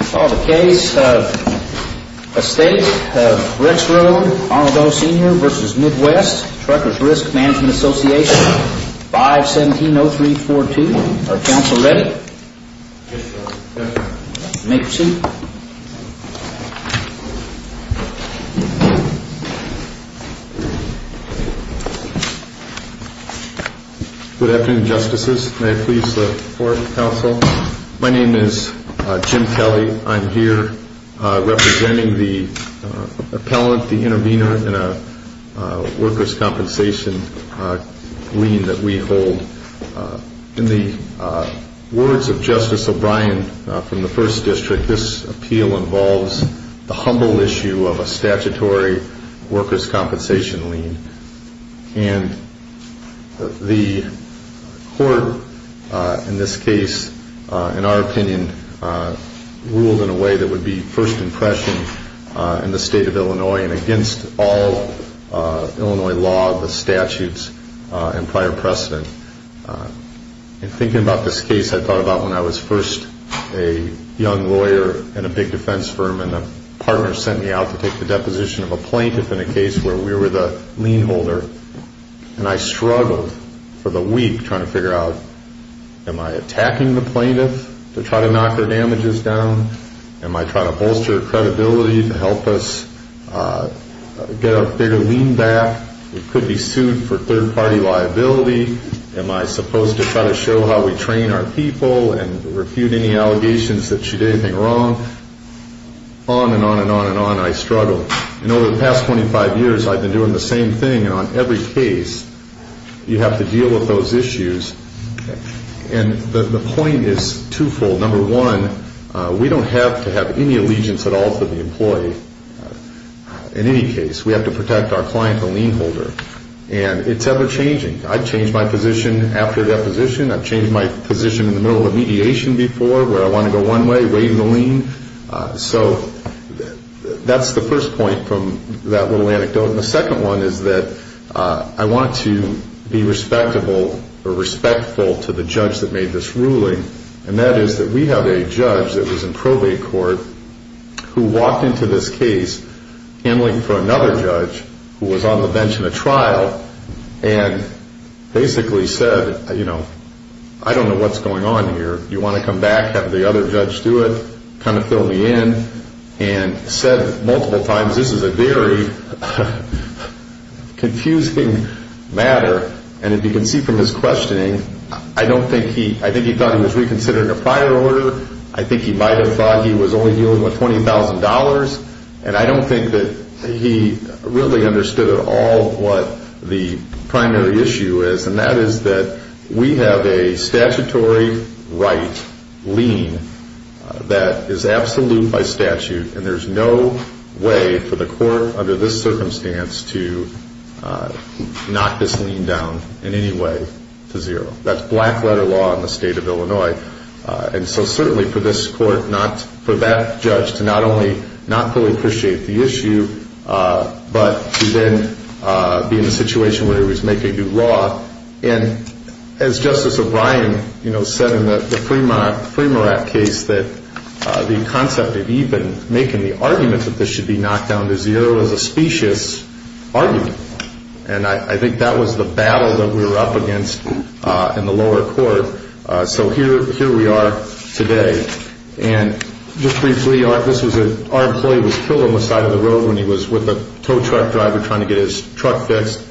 Case of Estate of Rexroad, Arnold O. Sr. v. Mid-West Truckers Risk Management Association, 5-170-342, are counsel ready? Yes, sir. Make your seat. Good afternoon, Justices. May I please have the floor, counsel? My name is Jim Kelly. I'm here representing the appellant, the intervener, in a workers' compensation lien that we hold. In the words of Justice O'Brien from the First District, this appeal involves the humble issue of a statutory workers' compensation lien. And the court in this case, in our opinion, ruled in a way that would be first impression in the State of Illinois and against all Illinois law, the statutes, and prior precedent. In thinking about this case, I thought about when I was first a young lawyer in a big defense firm and a partner sent me out to take the deposition of a plaintiff in a case where we were the lien holder. And I struggled for the week trying to figure out, am I attacking the plaintiff to try to knock her damages down? Am I trying to bolster her credibility to help us get a bigger lien back? We could be sued for third-party liability. Am I supposed to try to show how we train our people and refute any allegations that she did anything wrong? On and on and on and on I struggled. And over the past 25 years, I've been doing the same thing on every case. You have to deal with those issues. And the point is twofold. Number one, we don't have to have any allegiance at all to the employee in any case. We have to protect our client, the lien holder. And it's ever-changing. I've changed my position after deposition. I've changed my position in the middle of mediation before where I want to go one way, waive the lien. So that's the first point from that little anecdote. And the second one is that I want to be respectable or respectful to the judge that made this ruling. And that is that we have a judge that was in probate court who walked into this case handling for another judge who was on the bench in a trial and basically said, you know, I don't know what's going on here. Do you want to come back? Have the other judge do it? Kind of fill me in. And said multiple times this is a very confusing matter. And if you can see from his questioning, I think he thought he was reconsidering a prior order. I think he might have thought he was only dealing with $20,000. And I don't think that he really understood at all what the primary issue is. And that is that we have a statutory right lien that is absolute by statute. And there's no way for the court under this circumstance to knock this lien down in any way to zero. That's black letter law in the state of Illinois. And so certainly for this court not for that judge to not only not fully appreciate the issue, but to then be in a situation where he was making new law. And as Justice O'Brien, you know, said in the Fremont case that the concept of even making the argument that this should be knocked down to zero is a specious argument. And I think that was the battle that we were up against in the lower court. So here we are today. And just briefly, our employee was killed on the side of the road when he was with a tow truck driver trying to get his truck fixed.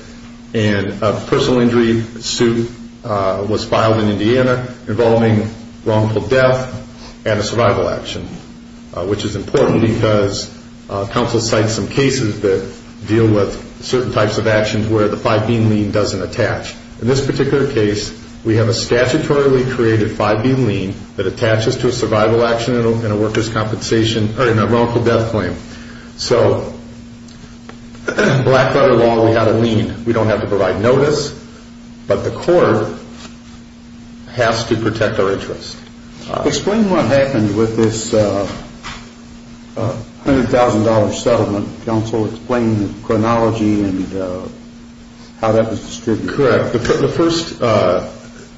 And a personal injury suit was filed in Indiana involving wrongful death and a survival action, which is important because counsel cites some cases that deal with certain types of actions where the 5B lien doesn't attach. In this particular case, we have a statutorily created 5B lien that attaches to a survival action and a worker's compensation or a wrongful death claim. So in black leather law, we have a lien. We don't have to provide notice, but the court has to protect our interest. Explain what happened with this $100,000 settlement. Counsel, explain the chronology and how that was distributed. Correct.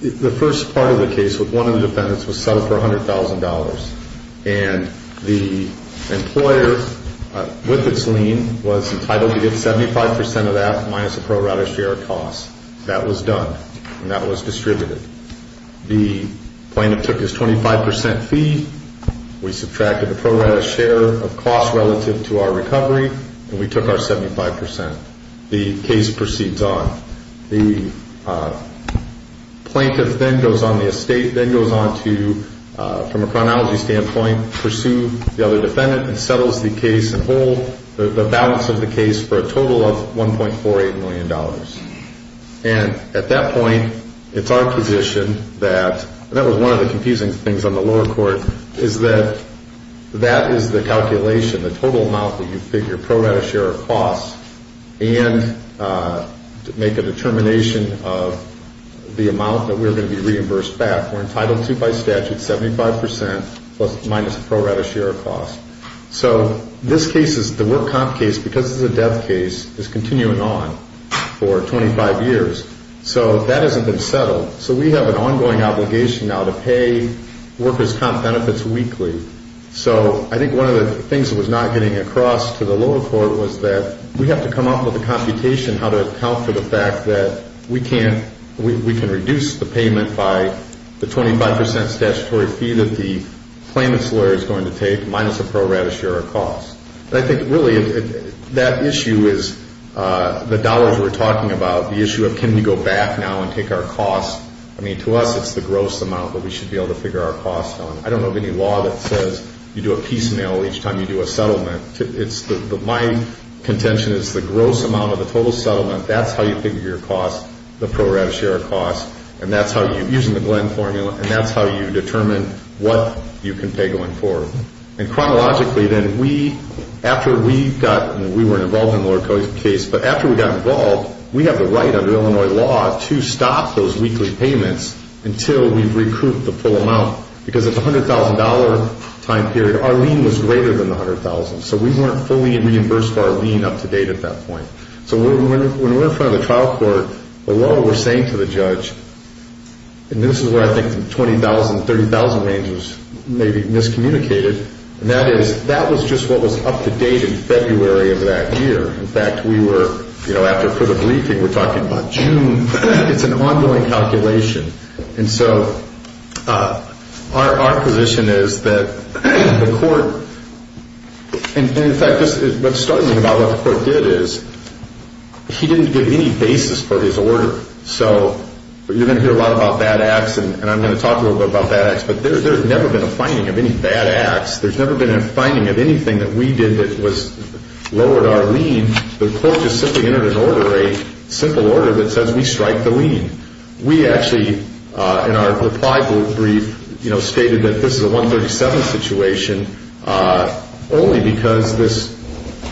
The first part of the case with one of the defendants was settled for $100,000. And the employer, with its lien, was entitled to get 75% of that minus a pro rata share of costs. That was done, and that was distributed. The plaintiff took his 25% fee. We subtracted the pro rata share of costs relative to our recovery, and we took our 75%. The case proceeds on. The plaintiff then goes on the estate, then goes on to, from a chronology standpoint, pursue the other defendant and settles the case and hold the balance of the case for a total of $1.48 million. And at that point, it's our position that, and that was one of the confusing things on the lower court, is that that is the calculation, the total amount that you figure pro rata share of costs, and make a determination of the amount that we're going to be reimbursed back. We're entitled to, by statute, 75% minus pro rata share of costs. So this case is the work comp case, because it's a death case, is continuing on for 25 years. So that hasn't been settled. So we have an ongoing obligation now to pay workers' comp benefits weekly. So I think one of the things that was not getting across to the lower court was that we have to come up with a computation how to account for the fact that we can reduce the payment by the 25% statutory fee that the claimant's lawyer is going to take minus the pro rata share of costs. But I think, really, that issue is the dollars we're talking about, the issue of can we go back now and take our costs. I mean, to us, it's the gross amount that we should be able to figure our costs on. I don't know of any law that says you do a piecemeal each time you do a settlement. My contention is the gross amount of the total settlement, that's how you figure your costs, the pro rata share of costs, and that's how you, using the Glenn formula, and that's how you determine what you can pay going forward. And chronologically, then, we, after we got, we weren't involved in the lower court case, but after we got involved, we have the right under Illinois law to stop those weekly payments until we've recouped the full amount, because it's a $100,000 time period. Our lien was greater than the $100,000, so we weren't fully reimbursed for our lien up to date at that point. So when we're in front of the trial court, the law, we're saying to the judge, and this is where I think the $20,000, $30,000 range was maybe miscommunicated, and that is, that was just what was up to date in February of that year. In fact, we were, you know, after the briefing, we're talking about June. It's an ongoing calculation. And so our position is that the court, and in fact, what's startling about what the court did is, he didn't give any basis for his order. So you're going to hear a lot about bad acts, and I'm going to talk a little bit about bad acts, but there's never been a finding of any bad acts. There's never been a finding of anything that we did that was lower our lien. The court just simply entered an order, a simple order that says we strike the lien. We actually, in our reply brief, you know, stated that this is a 137 situation, only because this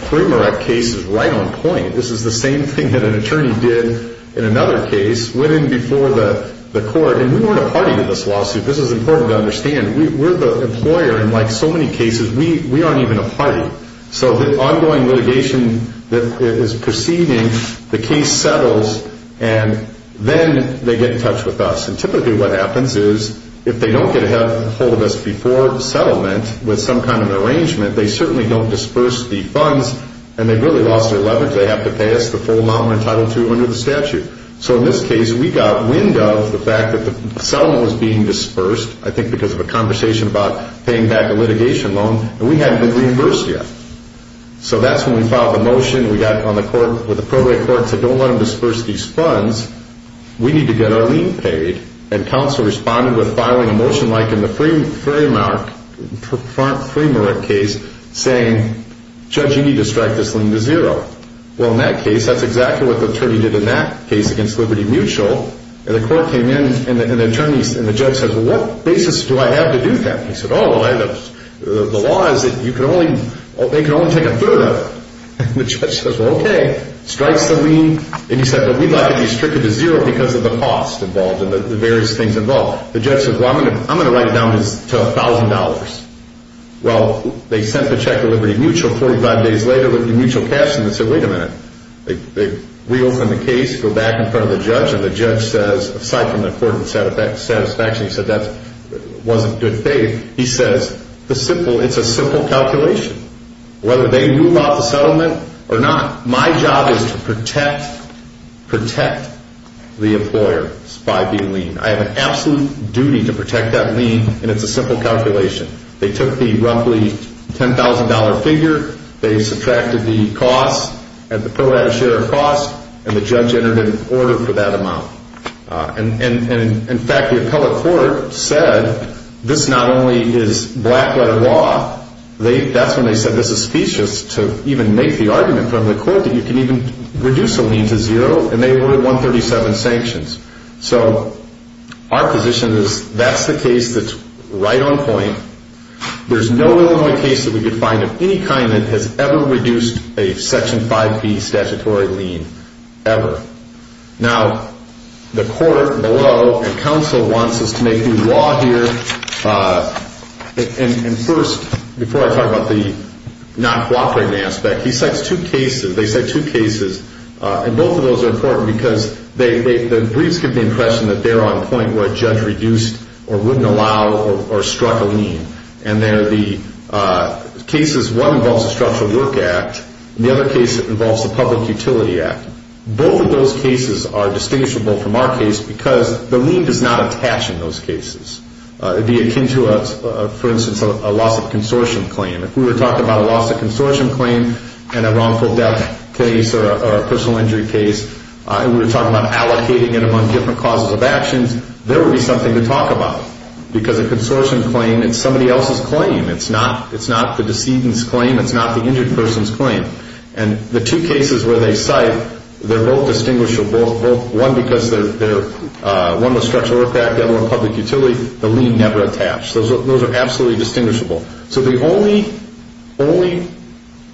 Prima rec case is right on point. This is the same thing that an attorney did in another case, went in before the court, and we weren't a party to this lawsuit. This is important to understand. We're the employer, and like so many cases, we aren't even a party. So the ongoing litigation that is proceeding, the case settles, and then they get in touch with us. And typically what happens is if they don't get a hold of us before settlement with some kind of arrangement, they certainly don't disperse the funds, and they've really lost their leverage. They have to pay us the full amount we're entitled to under the statute. So in this case, we got wind of the fact that the settlement was being dispersed, I think because of a conversation about paying back a litigation loan, and we hadn't been reimbursed yet. So that's when we filed the motion. We got on the court with the program court and said don't let them disperse these funds. We need to get our lien paid. And counsel responded with filing a motion like in the Prima rec case saying, Judge, you need to strike this lien to zero. Well, in that case, that's exactly what the attorney did in that case against Liberty Mutual. And the court came in, and the judge says, well, what basis do I have to do that? He said, oh, the law is that they can only take a third of it. And the judge says, well, okay. Strikes the lien, and he said, but we'd like to be stricter to zero because of the cost involved and the various things involved. The judge says, well, I'm going to write it down to $1,000. Well, they sent the check to Liberty Mutual. Forty-five days later, Liberty Mutual cashed in and said, wait a minute. They reopen the case, go back in front of the judge, and the judge says, aside from the court's satisfaction, he said that wasn't good faith. He says, it's a simple calculation. Whether they knew about the settlement or not, my job is to protect the employer by the lien. I have an absolute duty to protect that lien, and it's a simple calculation. They took the roughly $10,000 figure. They subtracted the cost, and the appellate had a share of costs, and the judge entered an order for that amount. And, in fact, the appellate court said this not only is black-letter law, that's when they said this is specious to even make the argument from the court that you can even reduce a lien to zero, and they ordered 137 sanctions. So our position is that's the case that's right on point. There's no Illinois case that we could find of any kind that has ever reduced a Section 5B statutory lien, ever. Now, the court below and counsel wants us to make new law here. And first, before I talk about the non-cooperative aspect, they cite two cases, and both of those are important because the briefs give the impression that they're on point where a judge reduced or wouldn't allow or struck a lien. And they're the cases, one involves the Structural Work Act, and the other case involves the Public Utility Act. Both of those cases are distinguishable from our case because the lien does not attach in those cases. It would be akin to, for instance, a loss of consortium claim. If we were talking about a loss of consortium claim and a wrongful death case or a personal injury case, and we were talking about allocating it among different causes of actions, there would be something to talk about because a consortium claim is somebody else's claim. It's not the decedent's claim. It's not the injured person's claim. And the two cases where they cite, they're both distinguishable, one because one was Structural Work Act, the other one Public Utility. The lien never attached. Those are absolutely distinguishable. So the only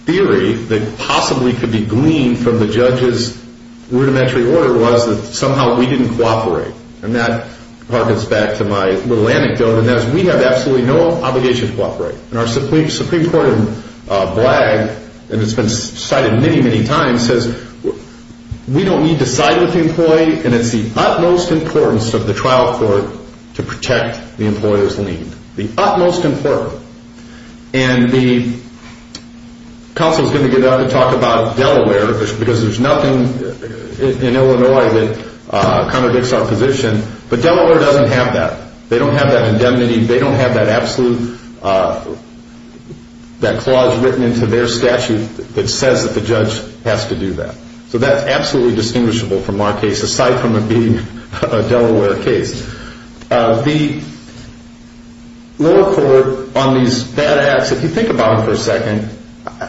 theory that possibly could be gleaned from the judge's rudimentary order was that somehow we didn't cooperate. And that harkens back to my little anecdote, and that is we have absolutely no obligation to cooperate. And our Supreme Court in BLAG, and it's been cited many, many times, says we don't need to side with the employee, and it's the utmost importance of the trial court to protect the employer's lien. The utmost important. And the counsel is going to get up and talk about Delaware because there's nothing in Illinois that contradicts our position, but Delaware doesn't have that. They don't have that indemnity. They don't have that absolute, that clause written into their statute that says that the judge has to do that. So that's absolutely distinguishable from our case, aside from it being a Delaware case. The lower court on these bad acts, if you think about them for a second,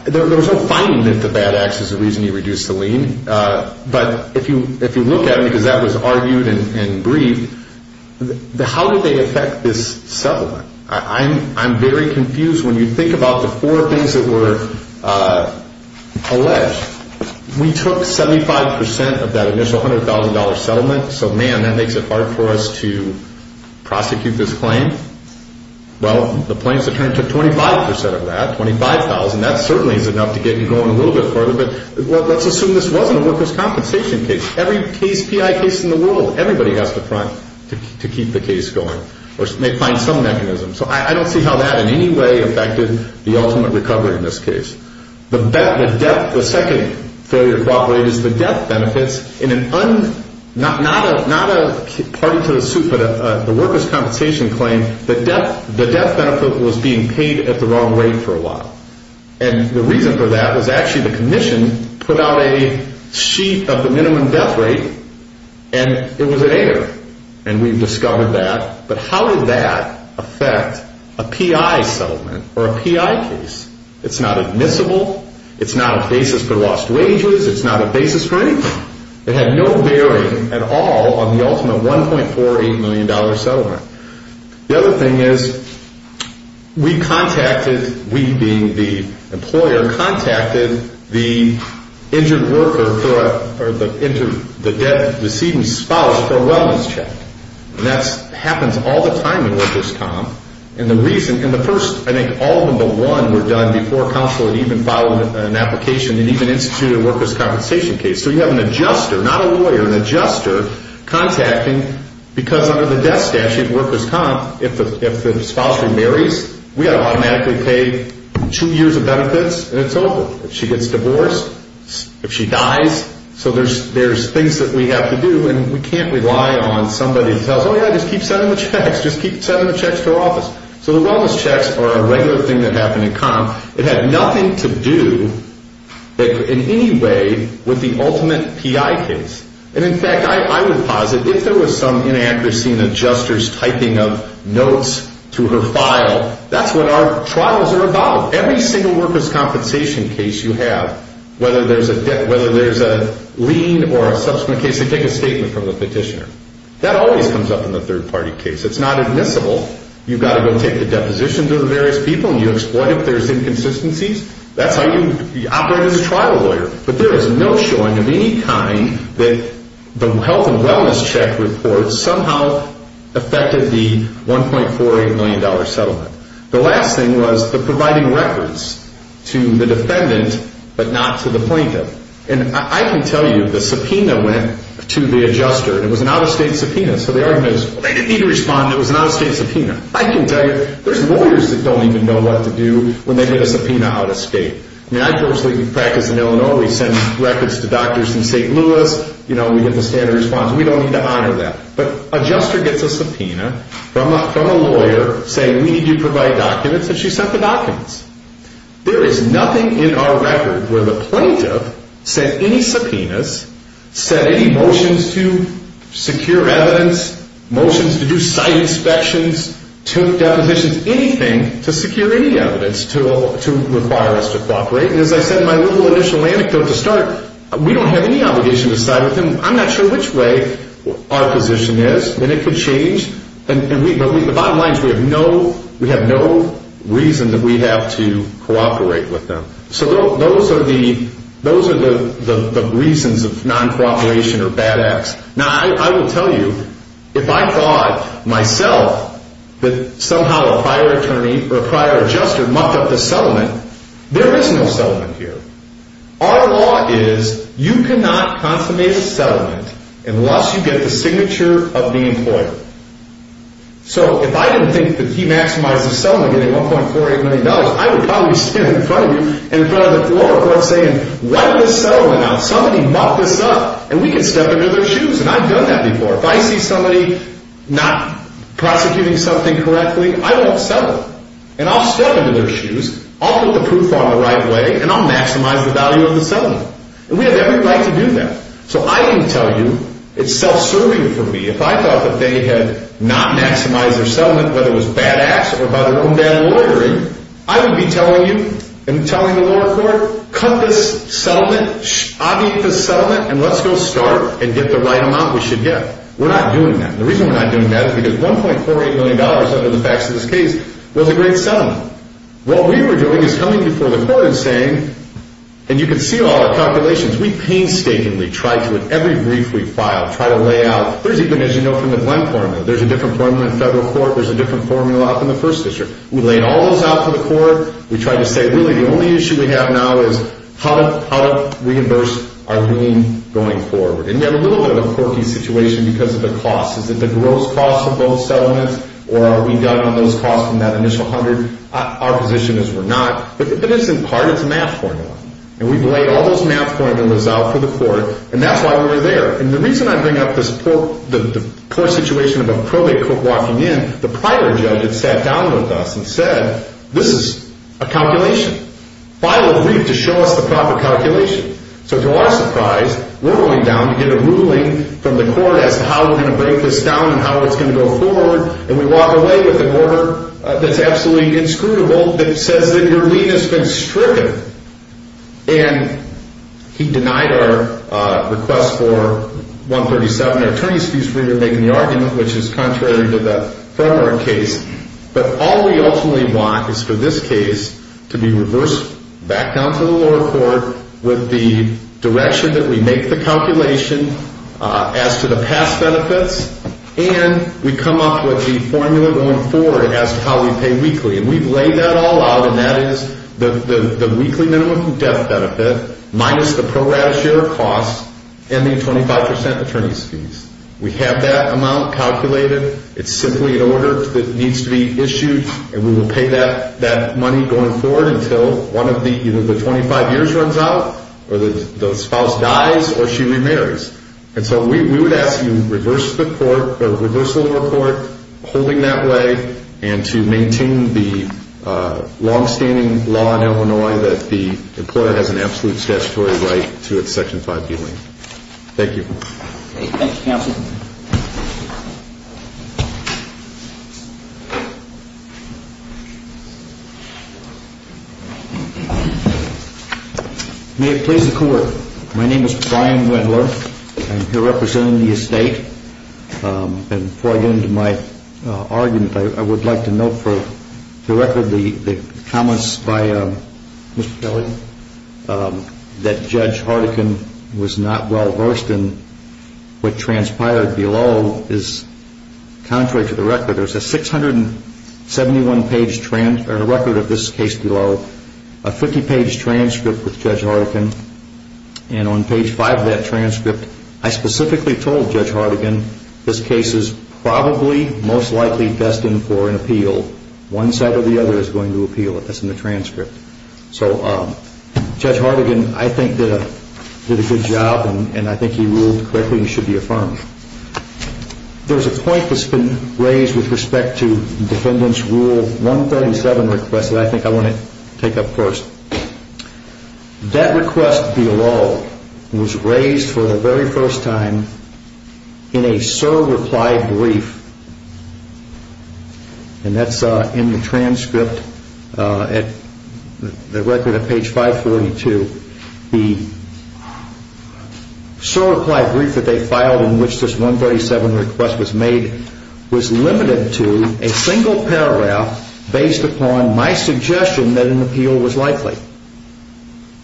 there was no finding that the bad acts is the reason you reduced the lien, but if you look at them, because that was argued and briefed, how did they affect this settlement? I'm very confused when you think about the four things that were alleged. We took 75% of that initial $100,000 settlement, so, man, that makes it hard for us to prosecute this claim. Well, the plaintiffs have turned to 25% of that, $25,000. That certainly is enough to get you going a little bit further, but let's assume this wasn't a workers' compensation case. Every case, PI case in the world, everybody has to front to keep the case going or may find some mechanism. So I don't see how that in any way affected the ultimate recovery in this case. The second failure to cooperate is the death benefits in an not a party to the suit, but the workers' compensation claim, the death benefit was being paid at the wrong rate for a while. And the reason for that was actually the commission put out a sheet of the minimum death rate, and it was an error, and we've discovered that. But how did that affect a PI settlement or a PI case? It's not admissible. It's not a basis for lost wages. It's not a basis for anything. It had no bearing at all on the ultimate $1.48 million settlement. The other thing is we contacted, we being the employer, contacted the injured worker or the debt-receiving spouse for a wellness check. And that happens all the time in workers' comp. And the reason, in the first, I think all of them but one were done before counsel had even filed an application and even instituted a workers' compensation case. So you have an adjuster, not a lawyer, an adjuster contacting because under the death statute, workers' comp, if the spouse remarries, we have to automatically pay two years of benefits, and it's over. If she gets divorced, if she dies, so there's things that we have to do, and we can't rely on somebody to tell us, oh, yeah, just keep sending the checks, just keep sending the checks to our office. So the wellness checks are a regular thing that happen in comp. It had nothing to do in any way with the ultimate PI case. And in fact, I would posit if there was some inaccuracy in the adjuster's typing of notes to her file, that's what our trials are about. Every single workers' compensation case you have, whether there's a lien or a subsequent case, they take a statement from the petitioner. That always comes up in the third-party case. It's not admissible. You've got to go take the deposition to the various people, and you exploit it if there's inconsistencies. That's how you operate as a trial lawyer. But there is no showing of any kind that the health and wellness check report somehow affected the $1.48 million settlement. The last thing was the providing records to the defendant but not to the plaintiff. And I can tell you the subpoena went to the adjuster, and it was an out-of-state subpoena. So the argument is, well, they didn't need to respond. It was an out-of-state subpoena. I can tell you there's lawyers that don't even know what to do when they get a subpoena out-of-state. I mean, I personally practice in Illinois. We send records to doctors in St. Louis. You know, we get the standard response. We don't need to honor that. But adjuster gets a subpoena from a lawyer saying, we need you to provide documents, and she sent the documents. There is nothing in our record where the plaintiff sent any subpoenas, sent any motions to secure evidence, motions to do site inspections, took depositions, anything to secure any evidence to require us to cooperate. And as I said in my little initial anecdote to start, we don't have any obligation to side with them. I'm not sure which way our position is, and it could change. But the bottom line is we have no reason that we have to cooperate with them. So those are the reasons of non-cooperation or bad acts. Now, I will tell you, if I thought myself that somehow a prior adjuster mucked up the settlement, there is no settlement here. Our law is you cannot consummate a settlement unless you get the signature of the employer. So if I didn't think that he maximized the settlement getting $1.48 million, I would probably stand in front of you and in front of the floor of court saying, wipe this settlement out, somebody mucked this up, and we can step into their shoes. And I've done that before. If I see somebody not prosecuting something correctly, I won't settle. And I'll step into their shoes, I'll put the proof on the right way, and I'll maximize the value of the settlement. And we have every right to do that. So I can tell you it's self-serving for me. If I thought that they had not maximized their settlement, whether it was bad acts or about their own bad lawyering, I would be telling you and telling the lower court, cut this settlement, obviate this settlement, and let's go start and get the right amount we should get. We're not doing that. The reason we're not doing that is because $1.48 million, under the facts of this case, was a great settlement. What we were doing is coming before the court and saying, and you can see all our calculations, we painstakingly tried to, in every brief we filed, try to lay out. There's even, as you know from the Glenn formula, there's a different formula in federal court, there's a different formula up in the first district. We laid all those out for the court. We tried to say, really, the only issue we have now is how to reimburse our lien going forward. And we have a little bit of a quirky situation because of the cost. Is it the gross cost of both settlements, or are we done on those costs from that initial $100? Our position is we're not. But it is, in part, it's a math formula. And we've laid all those math formulas out for the court, and that's why we were there. And the reason I bring up this poor situation of a probate court walking in, the prior judge had sat down with us and said, this is a calculation. File a brief to show us the proper calculation. So to our surprise, we're going down to get a ruling from the court as to how we're going to break this down and how it's going to go forward, and we walk away with an order that's absolutely inscrutable that says that your lien has been stricken. And he denied our request for $137. Our attorney's fees for making the argument, which is contrary to the Fremmer case. But all we ultimately want is for this case to be reversed back down to the lower court with the direction that we make the calculation as to the past benefits, and we come up with the formula going forward as to how we pay weekly. And we've laid that all out, and that is the weekly minimum death benefit minus the pro rata share of costs and the 25% attorney's fees. We have that amount calculated. It's simply an order that needs to be issued, and we will pay that money going forward until either the 25 years runs out or the spouse dies or she remarries. And so we would ask you to reverse the court, or reverse the lower court, holding that way, and to maintain the longstanding law in Illinois that the employer has an absolute statutory right to its Section 5 D lien. Thank you. Thank you, counsel. May it please the Court. My name is Brian Wendler. I'm here representing the estate. And before I get into my argument, I would like to note for the record the comments by Mr. Kelly that Judge Hartigan was not well versed in what transpired below is contrary to the record. There's a 671-page record of this case below, a 50-page transcript with Judge Hartigan. And on page 5 of that transcript, I specifically told Judge Hartigan this case is probably most likely destined for an appeal. One side or the other is going to appeal it. That's in the transcript. So Judge Hartigan, I think, did a good job, and I think he ruled correctly and should be affirmed. There's a point that's been raised with respect to Defendant's Rule 137 request that I think I want to take up first. That request below was raised for the very first time in a SOAR reply brief, and that's in the transcript, the record at page 542. The SOAR reply brief that they filed in which this 137 request was made was limited to a single paragraph based upon my suggestion that an appeal was likely.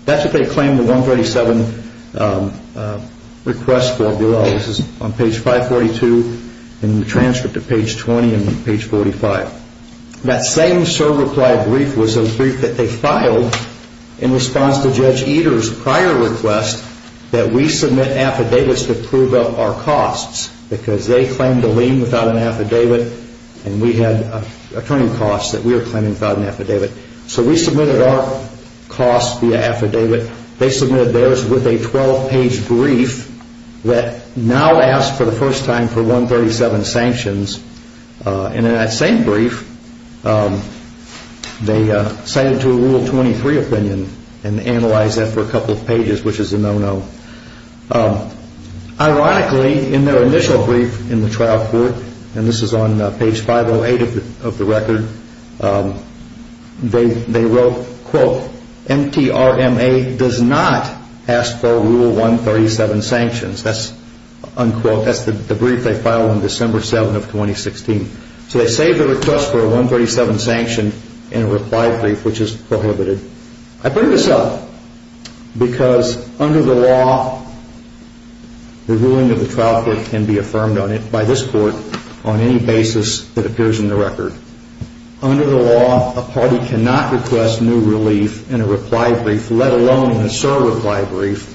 That's what they claimed the 137 request for below. This is on page 542 in the transcript of page 20 and page 45. That same SOAR reply brief was a brief that they filed in response to Judge Eder's prior request that we submit affidavits to prove up our costs because they claimed a lien without an affidavit, and we had attorney costs that we were claiming without an affidavit. So we submitted our costs via affidavit. They submitted theirs with a 12-page brief that now asks for the first time for 137 sanctions, and in that same brief they cited to a Rule 23 opinion and analyzed that for a couple of pages, which is a no-no. Ironically, in their initial brief in the trial court, and this is on page 508 of the record, they wrote, quote, MTRMA does not ask for Rule 137 sanctions. That's the brief they filed on December 7 of 2016. So they saved the request for a 137 sanction in a reply brief, which is prohibited. I bring this up because under the law, the ruling of the trial court can be affirmed by this court on any basis that appears in the record. Under the law, a party cannot request new relief in a reply brief, let alone in a SOAR reply brief.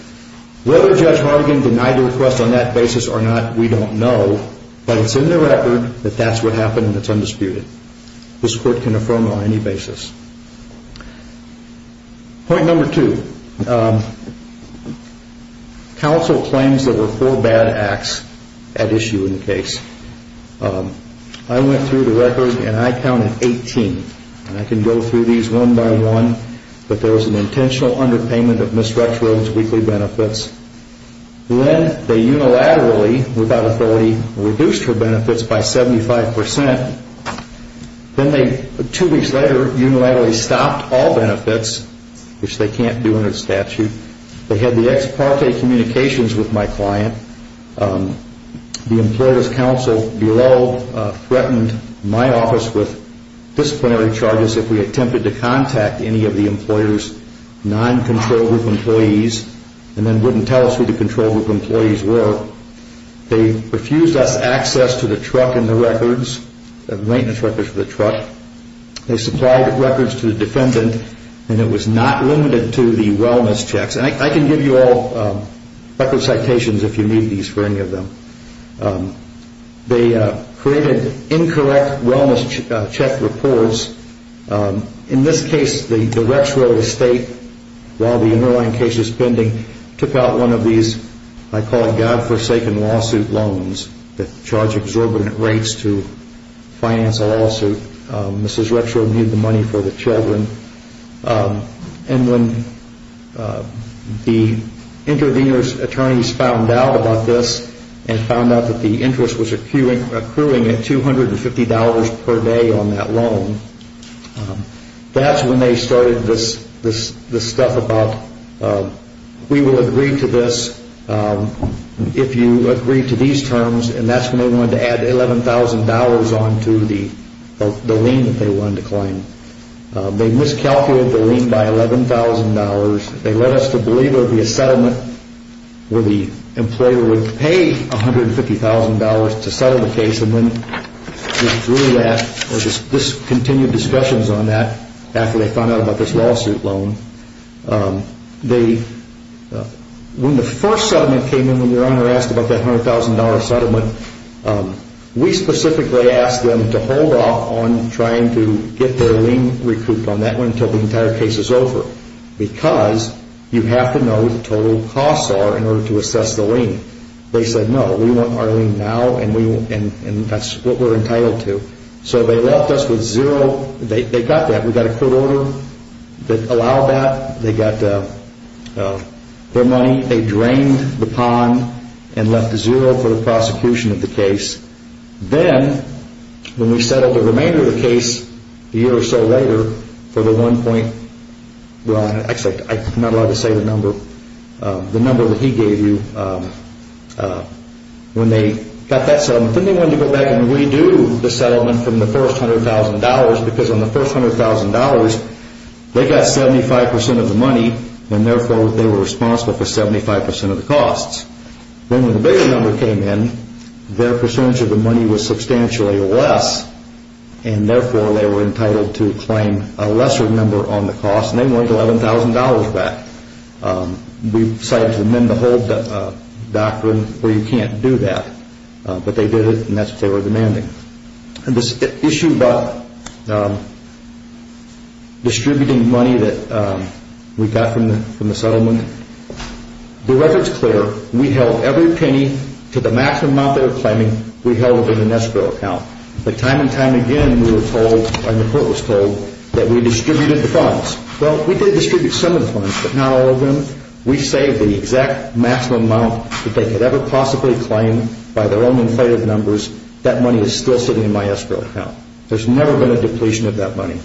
Whether Judge Hartigan denied the request on that basis or not, we don't know, but it's in the record that that's what happened and it's undisputed. This court can affirm it on any basis. Point number two, counsel claims there were four bad acts at issue in the case. I went through the record and I counted 18, and I can go through these one by one, but there was an intentional underpayment of Ms. Rexroth's weekly benefits. Then they unilaterally, without authority, reduced her benefits by 75%. Then they, two weeks later, unilaterally stopped all benefits, which they can't do under the statute. They had the ex parte communications with my client. The employer's counsel below threatened my office with disciplinary charges if we attempted to contact any of the employer's non-control group employees and then wouldn't tell us who the control group employees were. They refused us access to the truck and the records, the maintenance records for the truck. They supplied records to the defendant and it was not limited to the wellness checks. I can give you all record citations if you need these for any of them. They created incorrect wellness check reports. In this case, the Rexroth estate, while the underlying case is pending, they took out one of these, I call it God-forsaken lawsuit loans that charge exorbitant rates to finance a lawsuit. Mrs. Rexroth needed the money for the children. When the intervener's attorneys found out about this and found out that the interest was accruing at $250 per day on that loan, that's when they started this stuff about we will agree to this if you agree to these terms and that's when they wanted to add $11,000 on to the lien that they wanted to claim. They miscalculated the lien by $11,000. They led us to believe there would be a settlement where the employer would pay $150,000 to settle the case and this continued discussions on that after they found out about this lawsuit loan. When the first settlement came in, when the owner asked about that $100,000 settlement, we specifically asked them to hold off on trying to get their lien recouped on that one until the entire case is over because you have to know what the total costs are in order to assess the lien. They said no, we want our lien now and that's what we're entitled to. So they left us with zero. They got that. We got a court order that allowed that. They got their money. They drained the pond and left zero for the prosecution of the case. Then when we settled the remainder of the case a year or so later, I'm not allowed to say the number, the number that he gave you when they got that settlement, then they wanted to go back and redo the settlement from the first $100,000 because on the first $100,000 they got 75% of the money and therefore they were responsible for 75% of the costs. Then when the bigger number came in, their percentage of the money was substantially less and therefore they were entitled to claim a lesser number on the cost and they wanted $11,000 back. We decided to amend the whole doctrine where you can't do that, but they did it and that's what they were demanding. This issue about distributing money that we got from the settlement, the record's clear. We held every penny to the maximum amount they were claiming. We held it in an escrow account. But time and time again we were told, and the court was told, that we distributed the funds. Well, we did distribute some of the funds, but not all of them. We saved the exact maximum amount that they could ever possibly claim by their own inflated numbers. That money is still sitting in my escrow account. There's never been a depletion of that money.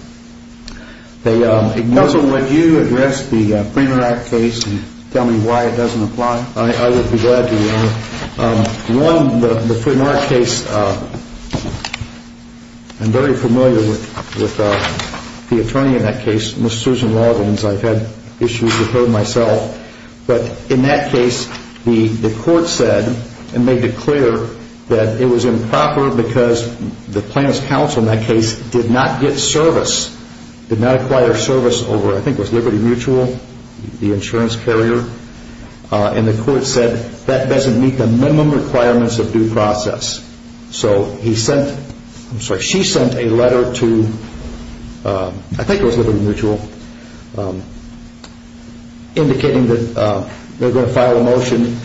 Counsel, would you address the Free Interact case and tell me why it doesn't apply? I would be glad to. One, the Free Interact case, I'm very familiar with the attorney in that case, Ms. Susan Rawlins. I've had issues with her myself. But in that case, the court said and made it clear that it was improper because the plaintiff's counsel in that case did not get service, did not acquire service over, I think it was Liberty Mutual, the insurance carrier. And the court said that doesn't meet the minimum requirements of due process. So she sent a letter to, I think it was Liberty Mutual, indicating that they were going to file a motion,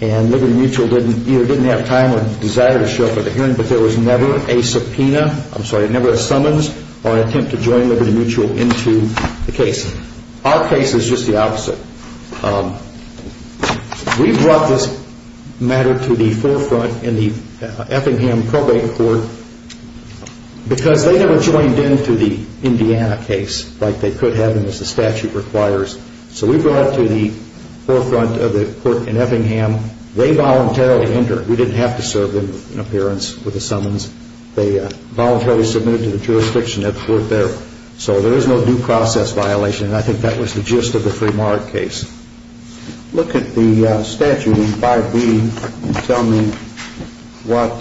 and Liberty Mutual either didn't have time or desire to show up at the hearing, but there was never a subpoena, I'm sorry, never a summons or an attempt to join Liberty Mutual into the case. Our case is just the opposite. We brought this matter to the forefront in the Effingham probate court because they never joined into the Indiana case like they could have and as the statute requires. So we brought it to the forefront of the court in Effingham. They voluntarily entered. We didn't have to serve them an appearance with a summons. They voluntarily submitted to the jurisdiction at the court there. So there is no due process violation, and I think that was the gist of the Fremont case. Look at the statute in 5B and tell me what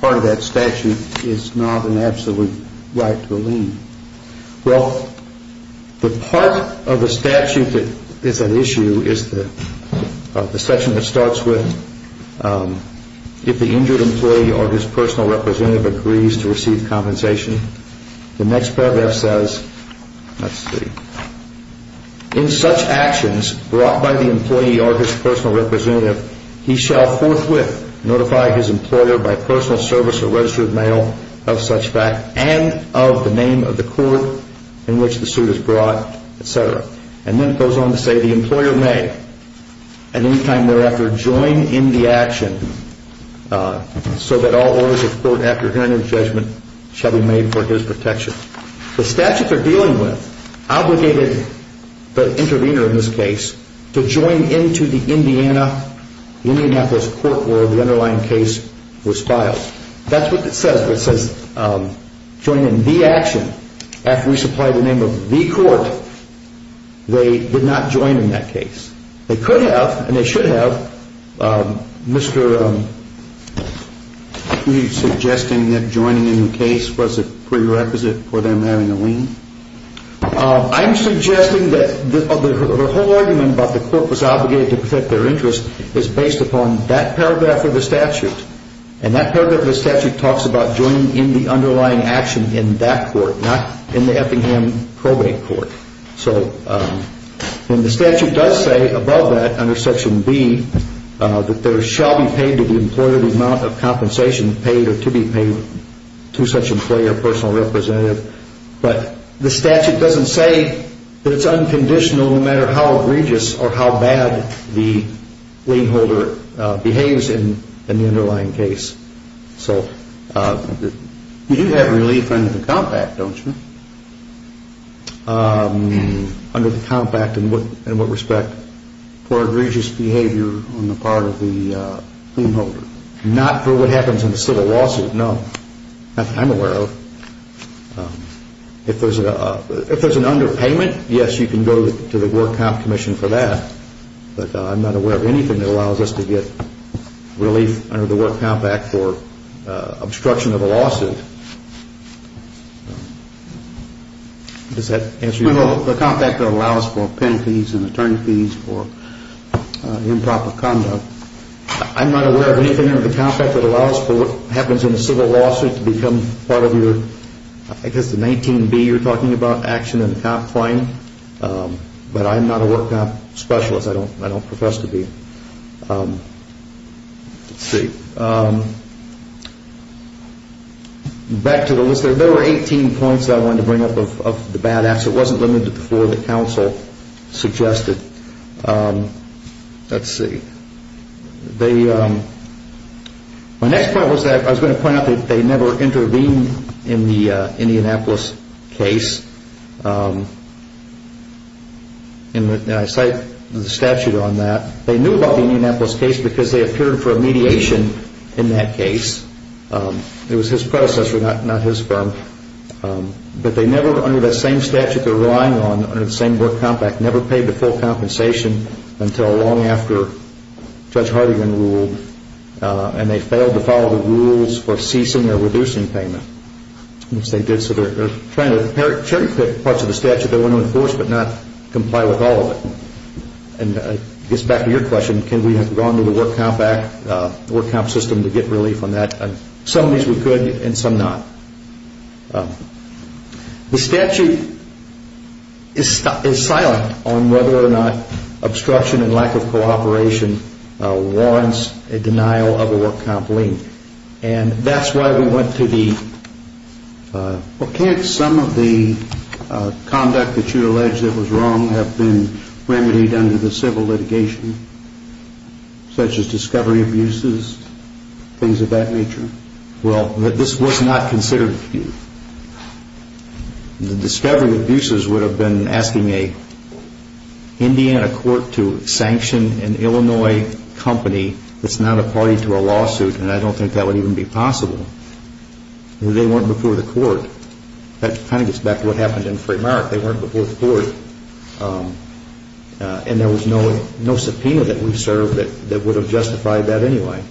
part of that statute is not an absolute right to leave. Well, the part of the statute that is an issue is the section that starts with if the injured employee or his personal representative agrees to receive compensation. The next paragraph says, let's see, in such actions brought by the employee or his personal representative, he shall forthwith notify his employer by personal service or registered mail of such fact and of the name of the court in which the suit is brought, etc. And then it goes on to say the employer may at any time thereafter join in the action so that all orders of court after hearing of judgment shall be made for his protection. The statute they're dealing with obligated the intervener in this case to join into the Indiana, Indianapolis court where the underlying case was filed. That's what it says. It says join in the action. After we supply the name of the court, they did not join in that case. They could have and they should have. Mr. Are you suggesting that joining in the case was a prerequisite for them having a lien? I'm suggesting that the whole argument about the court was obligated to protect their interests is based upon that paragraph of the statute. And that paragraph of the statute talks about joining in the underlying action in that court, not in the Effingham probate court. And the statute does say above that under section B that there shall be paid to the employer the amount of compensation paid or to be paid to such employee or personal representative. But the statute doesn't say that it's unconditional no matter how egregious or how bad the lien holder behaves in the underlying case. So you do have relief under the compact, don't you? Under the compact in what respect? For egregious behavior on the part of the lien holder. Not for what happens in the civil lawsuit, no. I'm aware of. If there's an underpayment, yes, you can go to the work comp commission for that. But I'm not aware of anything that allows us to get relief under the work compact for obstruction of a lawsuit. Does that answer your question? The compact that allows for pen fees and attorney fees for improper conduct. I'm not aware of anything under the compact that allows for what happens in the civil lawsuit to become part of your, I guess the 19B you're talking about, action in the comp claim. But I'm not a work comp specialist. I don't profess to be. Let's see. Back to the list. There were 18 points that I wanted to bring up of the bad acts. It wasn't limited to the four that counsel suggested. Let's see. My next point was that I was going to point out that they never intervened in the Indianapolis case. And I cite the statute on that. They knew about the Indianapolis case because they appeared for a mediation in that case. It was his predecessor, not his firm. But they never, under that same statute they're relying on, under the same work compact, never paid the full compensation until long after Judge Hardigan ruled. And they failed to follow the rules for ceasing or reducing payment, which they did. So they're trying to cherry-pick parts of the statute they want to enforce but not comply with all of it. And I guess back to your question, can we have gone to the work comp system to get relief on that? Some of these we could and some not. The statute is silent on whether or not obstruction and lack of cooperation warrants a denial of a work comp lien. And that's why we went to the... Well, can't some of the conduct that you allege that was wrong have been remedied under the civil litigation, such as discovery abuses, things of that nature? Well, this was not considered. The discovery abuses would have been asking an Indiana court to sanction an Illinois company that's not a party to a lawsuit, and I don't think that would even be possible. They weren't before the court. That kind of gets back to what happened in Freemont. They weren't before the court. And there was no subpoena that we served that would have justified that anyway.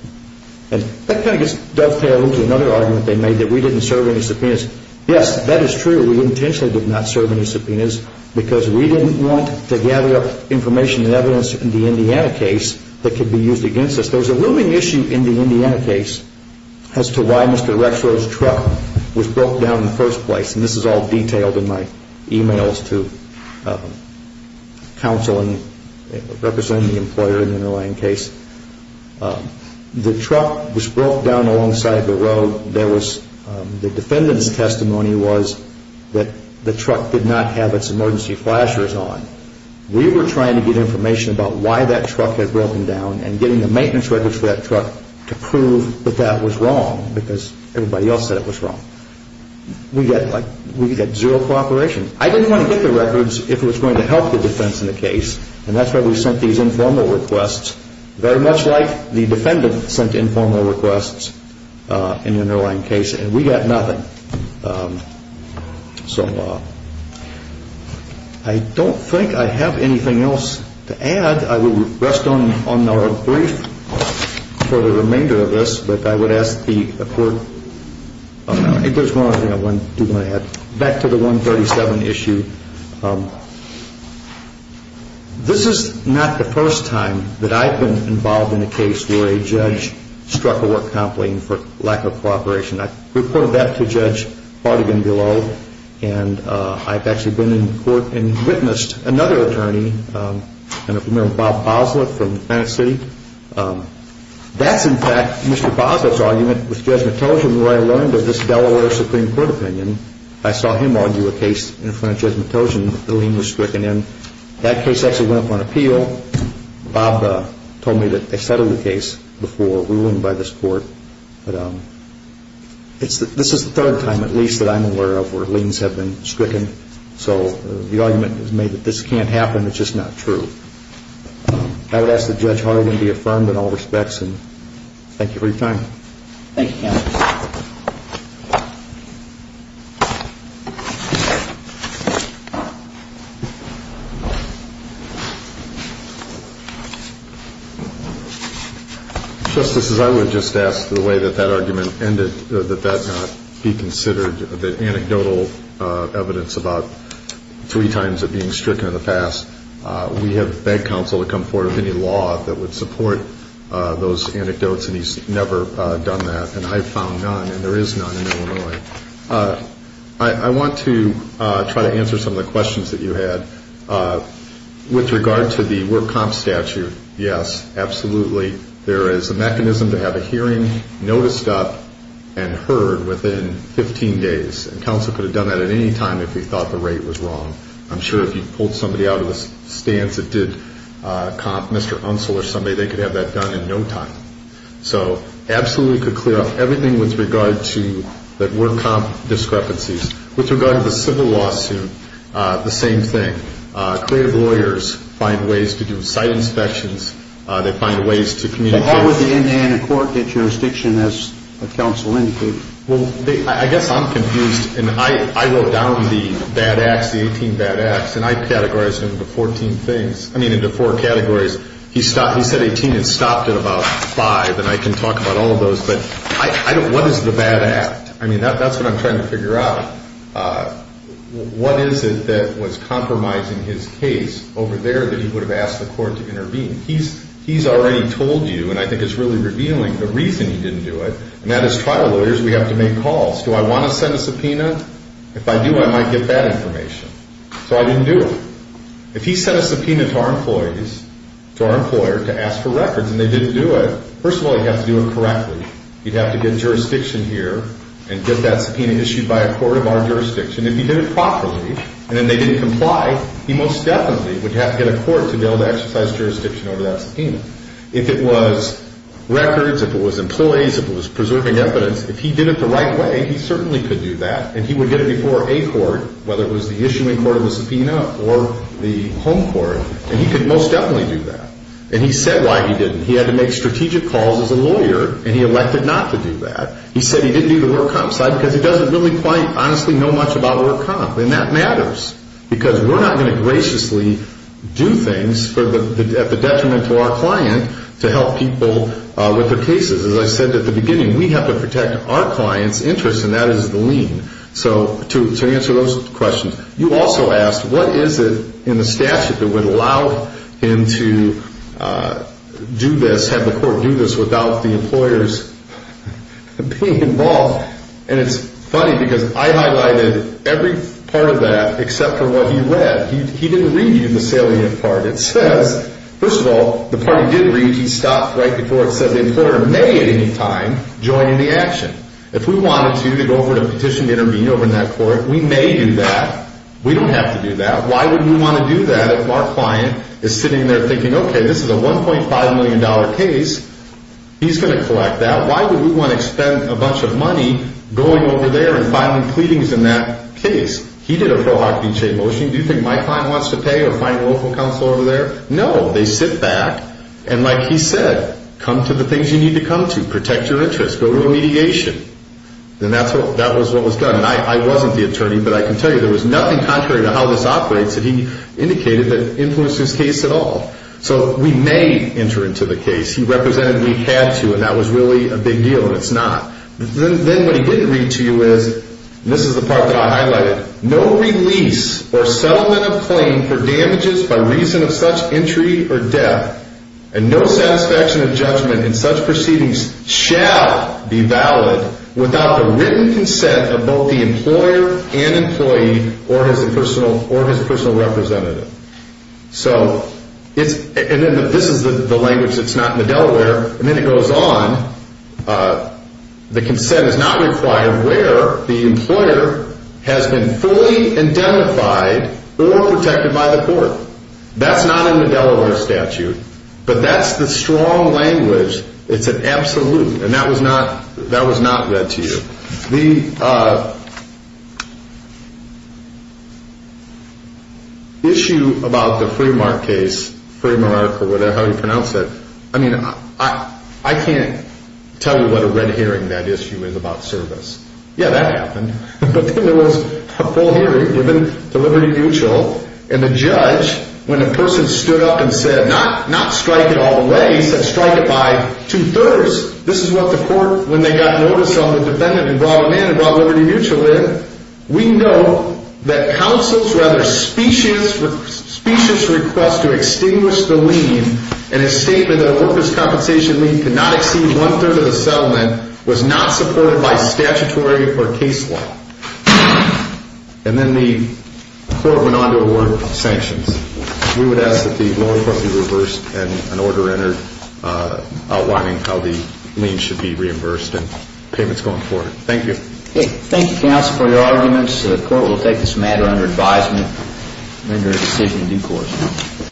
And that kind of dovetails into another argument they made, that we didn't serve any subpoenas. Yes, that is true. We intentionally did not serve any subpoenas because we didn't want to gather up information and evidence in the Indiana case that could be used against us. There's a looming issue in the Indiana case as to why Mr. Rexrow's truck was broke down in the first place. And this is all detailed in my e-mails to counsel and representing the employer in the underlying case. The truck was broke down alongside the road. The defendant's testimony was that the truck did not have its emergency flashers on. We were trying to get information about why that truck had broken down and getting the maintenance records for that truck to prove that that was wrong because everybody else said it was wrong. We got zero cooperation. I didn't want to get the records if it was going to help the defense in the case, and that's why we sent these informal requests, very much like the defendant sent informal requests in the underlying case. And we got nothing. So I don't think I have anything else to add. I will rest on our brief for the remainder of this. But I would ask the court, if there's one other thing I do want to add. Back to the 137 issue, this is not the first time that I've been involved in a case where a judge struck a work complaint for lack of cooperation. I reported that to Judge Partigan below, and I've actually been in court and witnessed another attorney, a man named Bob Boslett from Tennessee. That's, in fact, Mr. Boslett's argument with Judge Matojan where I learned of this Delaware Supreme Court opinion. I saw him argue a case in front of Judge Matojan. The lien was stricken in. That case actually went up on appeal. Bob told me that they settled the case before ruling by this court. But this is the third time, at least, that I'm aware of where liens have been stricken. So the argument is made that this can't happen. It's just not true. I would ask that Judge Hartigan be affirmed in all respects, and thank you for your time. Thank you, counsel. Thank you. Justices, I would just ask the way that that argument ended, that that not be considered anecdotal evidence about three times it being stricken in the past. We have begged counsel to come forward with any law that would support those anecdotes, and he's never done that, and I've found none, and there is none in Illinois. I want to try to answer some of the questions that you had. With regard to the we're comp statute, yes, absolutely. There is a mechanism to have a hearing noticed up and heard within 15 days, and counsel could have done that at any time if he thought the rate was wrong. I'm sure if you pulled somebody out of the stands that did comp, Mr. Unsell or somebody, they could have that done in no time. So absolutely could clear up everything with regard to that were comp discrepancies. With regard to the civil lawsuit, the same thing. Creative lawyers find ways to do site inspections. They find ways to communicate. So how would the Indiana court get jurisdiction, as counsel indicated? Well, I guess I'm confused, and I wrote down the bad acts, the 18 bad acts, and I categorized them into 14 things, I mean into four categories. He said 18 had stopped at about five, and I can talk about all of those, but what is the bad act? I mean, that's what I'm trying to figure out. What is it that was compromising his case over there that he would have asked the court to intervene? He's already told you, and I think it's really revealing the reason he didn't do it, and that is trial lawyers, we have to make calls. Do I want to send a subpoena? If I do, I might get bad information. So I didn't do it. If he sent a subpoena to our employees, to our employer, to ask for records and they didn't do it, first of all, he'd have to do it correctly. He'd have to get jurisdiction here and get that subpoena issued by a court of our jurisdiction. If he did it properly and then they didn't comply, he most definitely would have to get a court to be able to exercise jurisdiction over that subpoena. If it was records, if it was employees, if it was preserving evidence, if he did it the right way, he certainly could do that, and he would get it before a court, whether it was the issuing court of the subpoena or the home court, and he could most definitely do that. And he said why he didn't. He had to make strategic calls as a lawyer, and he elected not to do that. He said he didn't do the work comp side because he doesn't really quite honestly know much about work comp, and that matters because we're not going to graciously do things at the detriment to our client to help people with their cases. As I said at the beginning, we have to protect our client's interests, and that is the lien. So to answer those questions, you also asked what is it in the statute that would allow him to do this, have the court do this without the employers being involved, and it's funny because I highlighted every part of that except for what he read. He didn't read the salient part. It says, first of all, the part he did read, he stopped right before it said, the employer may at any time join in the action. If we wanted to, to go over to petition, intervene over in that court, we may do that. We don't have to do that. Why would we want to do that if our client is sitting there thinking, okay, this is a $1.5 million case. He's going to collect that. Why would we want to spend a bunch of money going over there and filing pleadings in that case? He did a pro hoc de chain motion. Do you think my client wants to pay or find local counsel over there? No. They sit back, and like he said, come to the things you need to come to. Protect your interests. Go to a mediation. And that was what was done. And I wasn't the attorney, but I can tell you there was nothing contrary to how this operates that he indicated that influenced his case at all. So we may enter into the case. He represented we had to, and that was really a big deal, and it's not. Then what he didn't read to you is, and this is the part that I highlighted, no release or settlement of claim for damages by reason of such entry or death, and no satisfaction of judgment in such proceedings shall be valid without the written consent of both the employer and employee or his personal representative. So this is the language that's not in the Delaware. And then it goes on. The consent is not required where the employer has been fully identified or protected by the court. That's not in the Delaware statute, but that's the strong language. It's an absolute, and that was not read to you. The issue about the Fremark case, Fremark or whatever, how do you pronounce it? I mean, I can't tell you what a red herring that issue is about service. Yeah, that happened. But there was a full hearing given to Liberty Mutual, and the judge, when a person stood up and said, not strike it all the way, he said strike it by two-thirds. This is what the court, when they got notice on the defendant and brought him in and brought Liberty Mutual in, we know that counsel's rather specious request to extinguish the lien in a statement that a workers' compensation lien could not exceed one-third of the settlement was not supported by statutory or case law. And then the court went on to award sanctions. We would ask that the lower court be reversed and an order entered outlining how the lien should be reimbursed, and payment's going forward. Thank you. Thank you, counsel, for your arguments. The court will take this matter under advisement and render a decision in due course.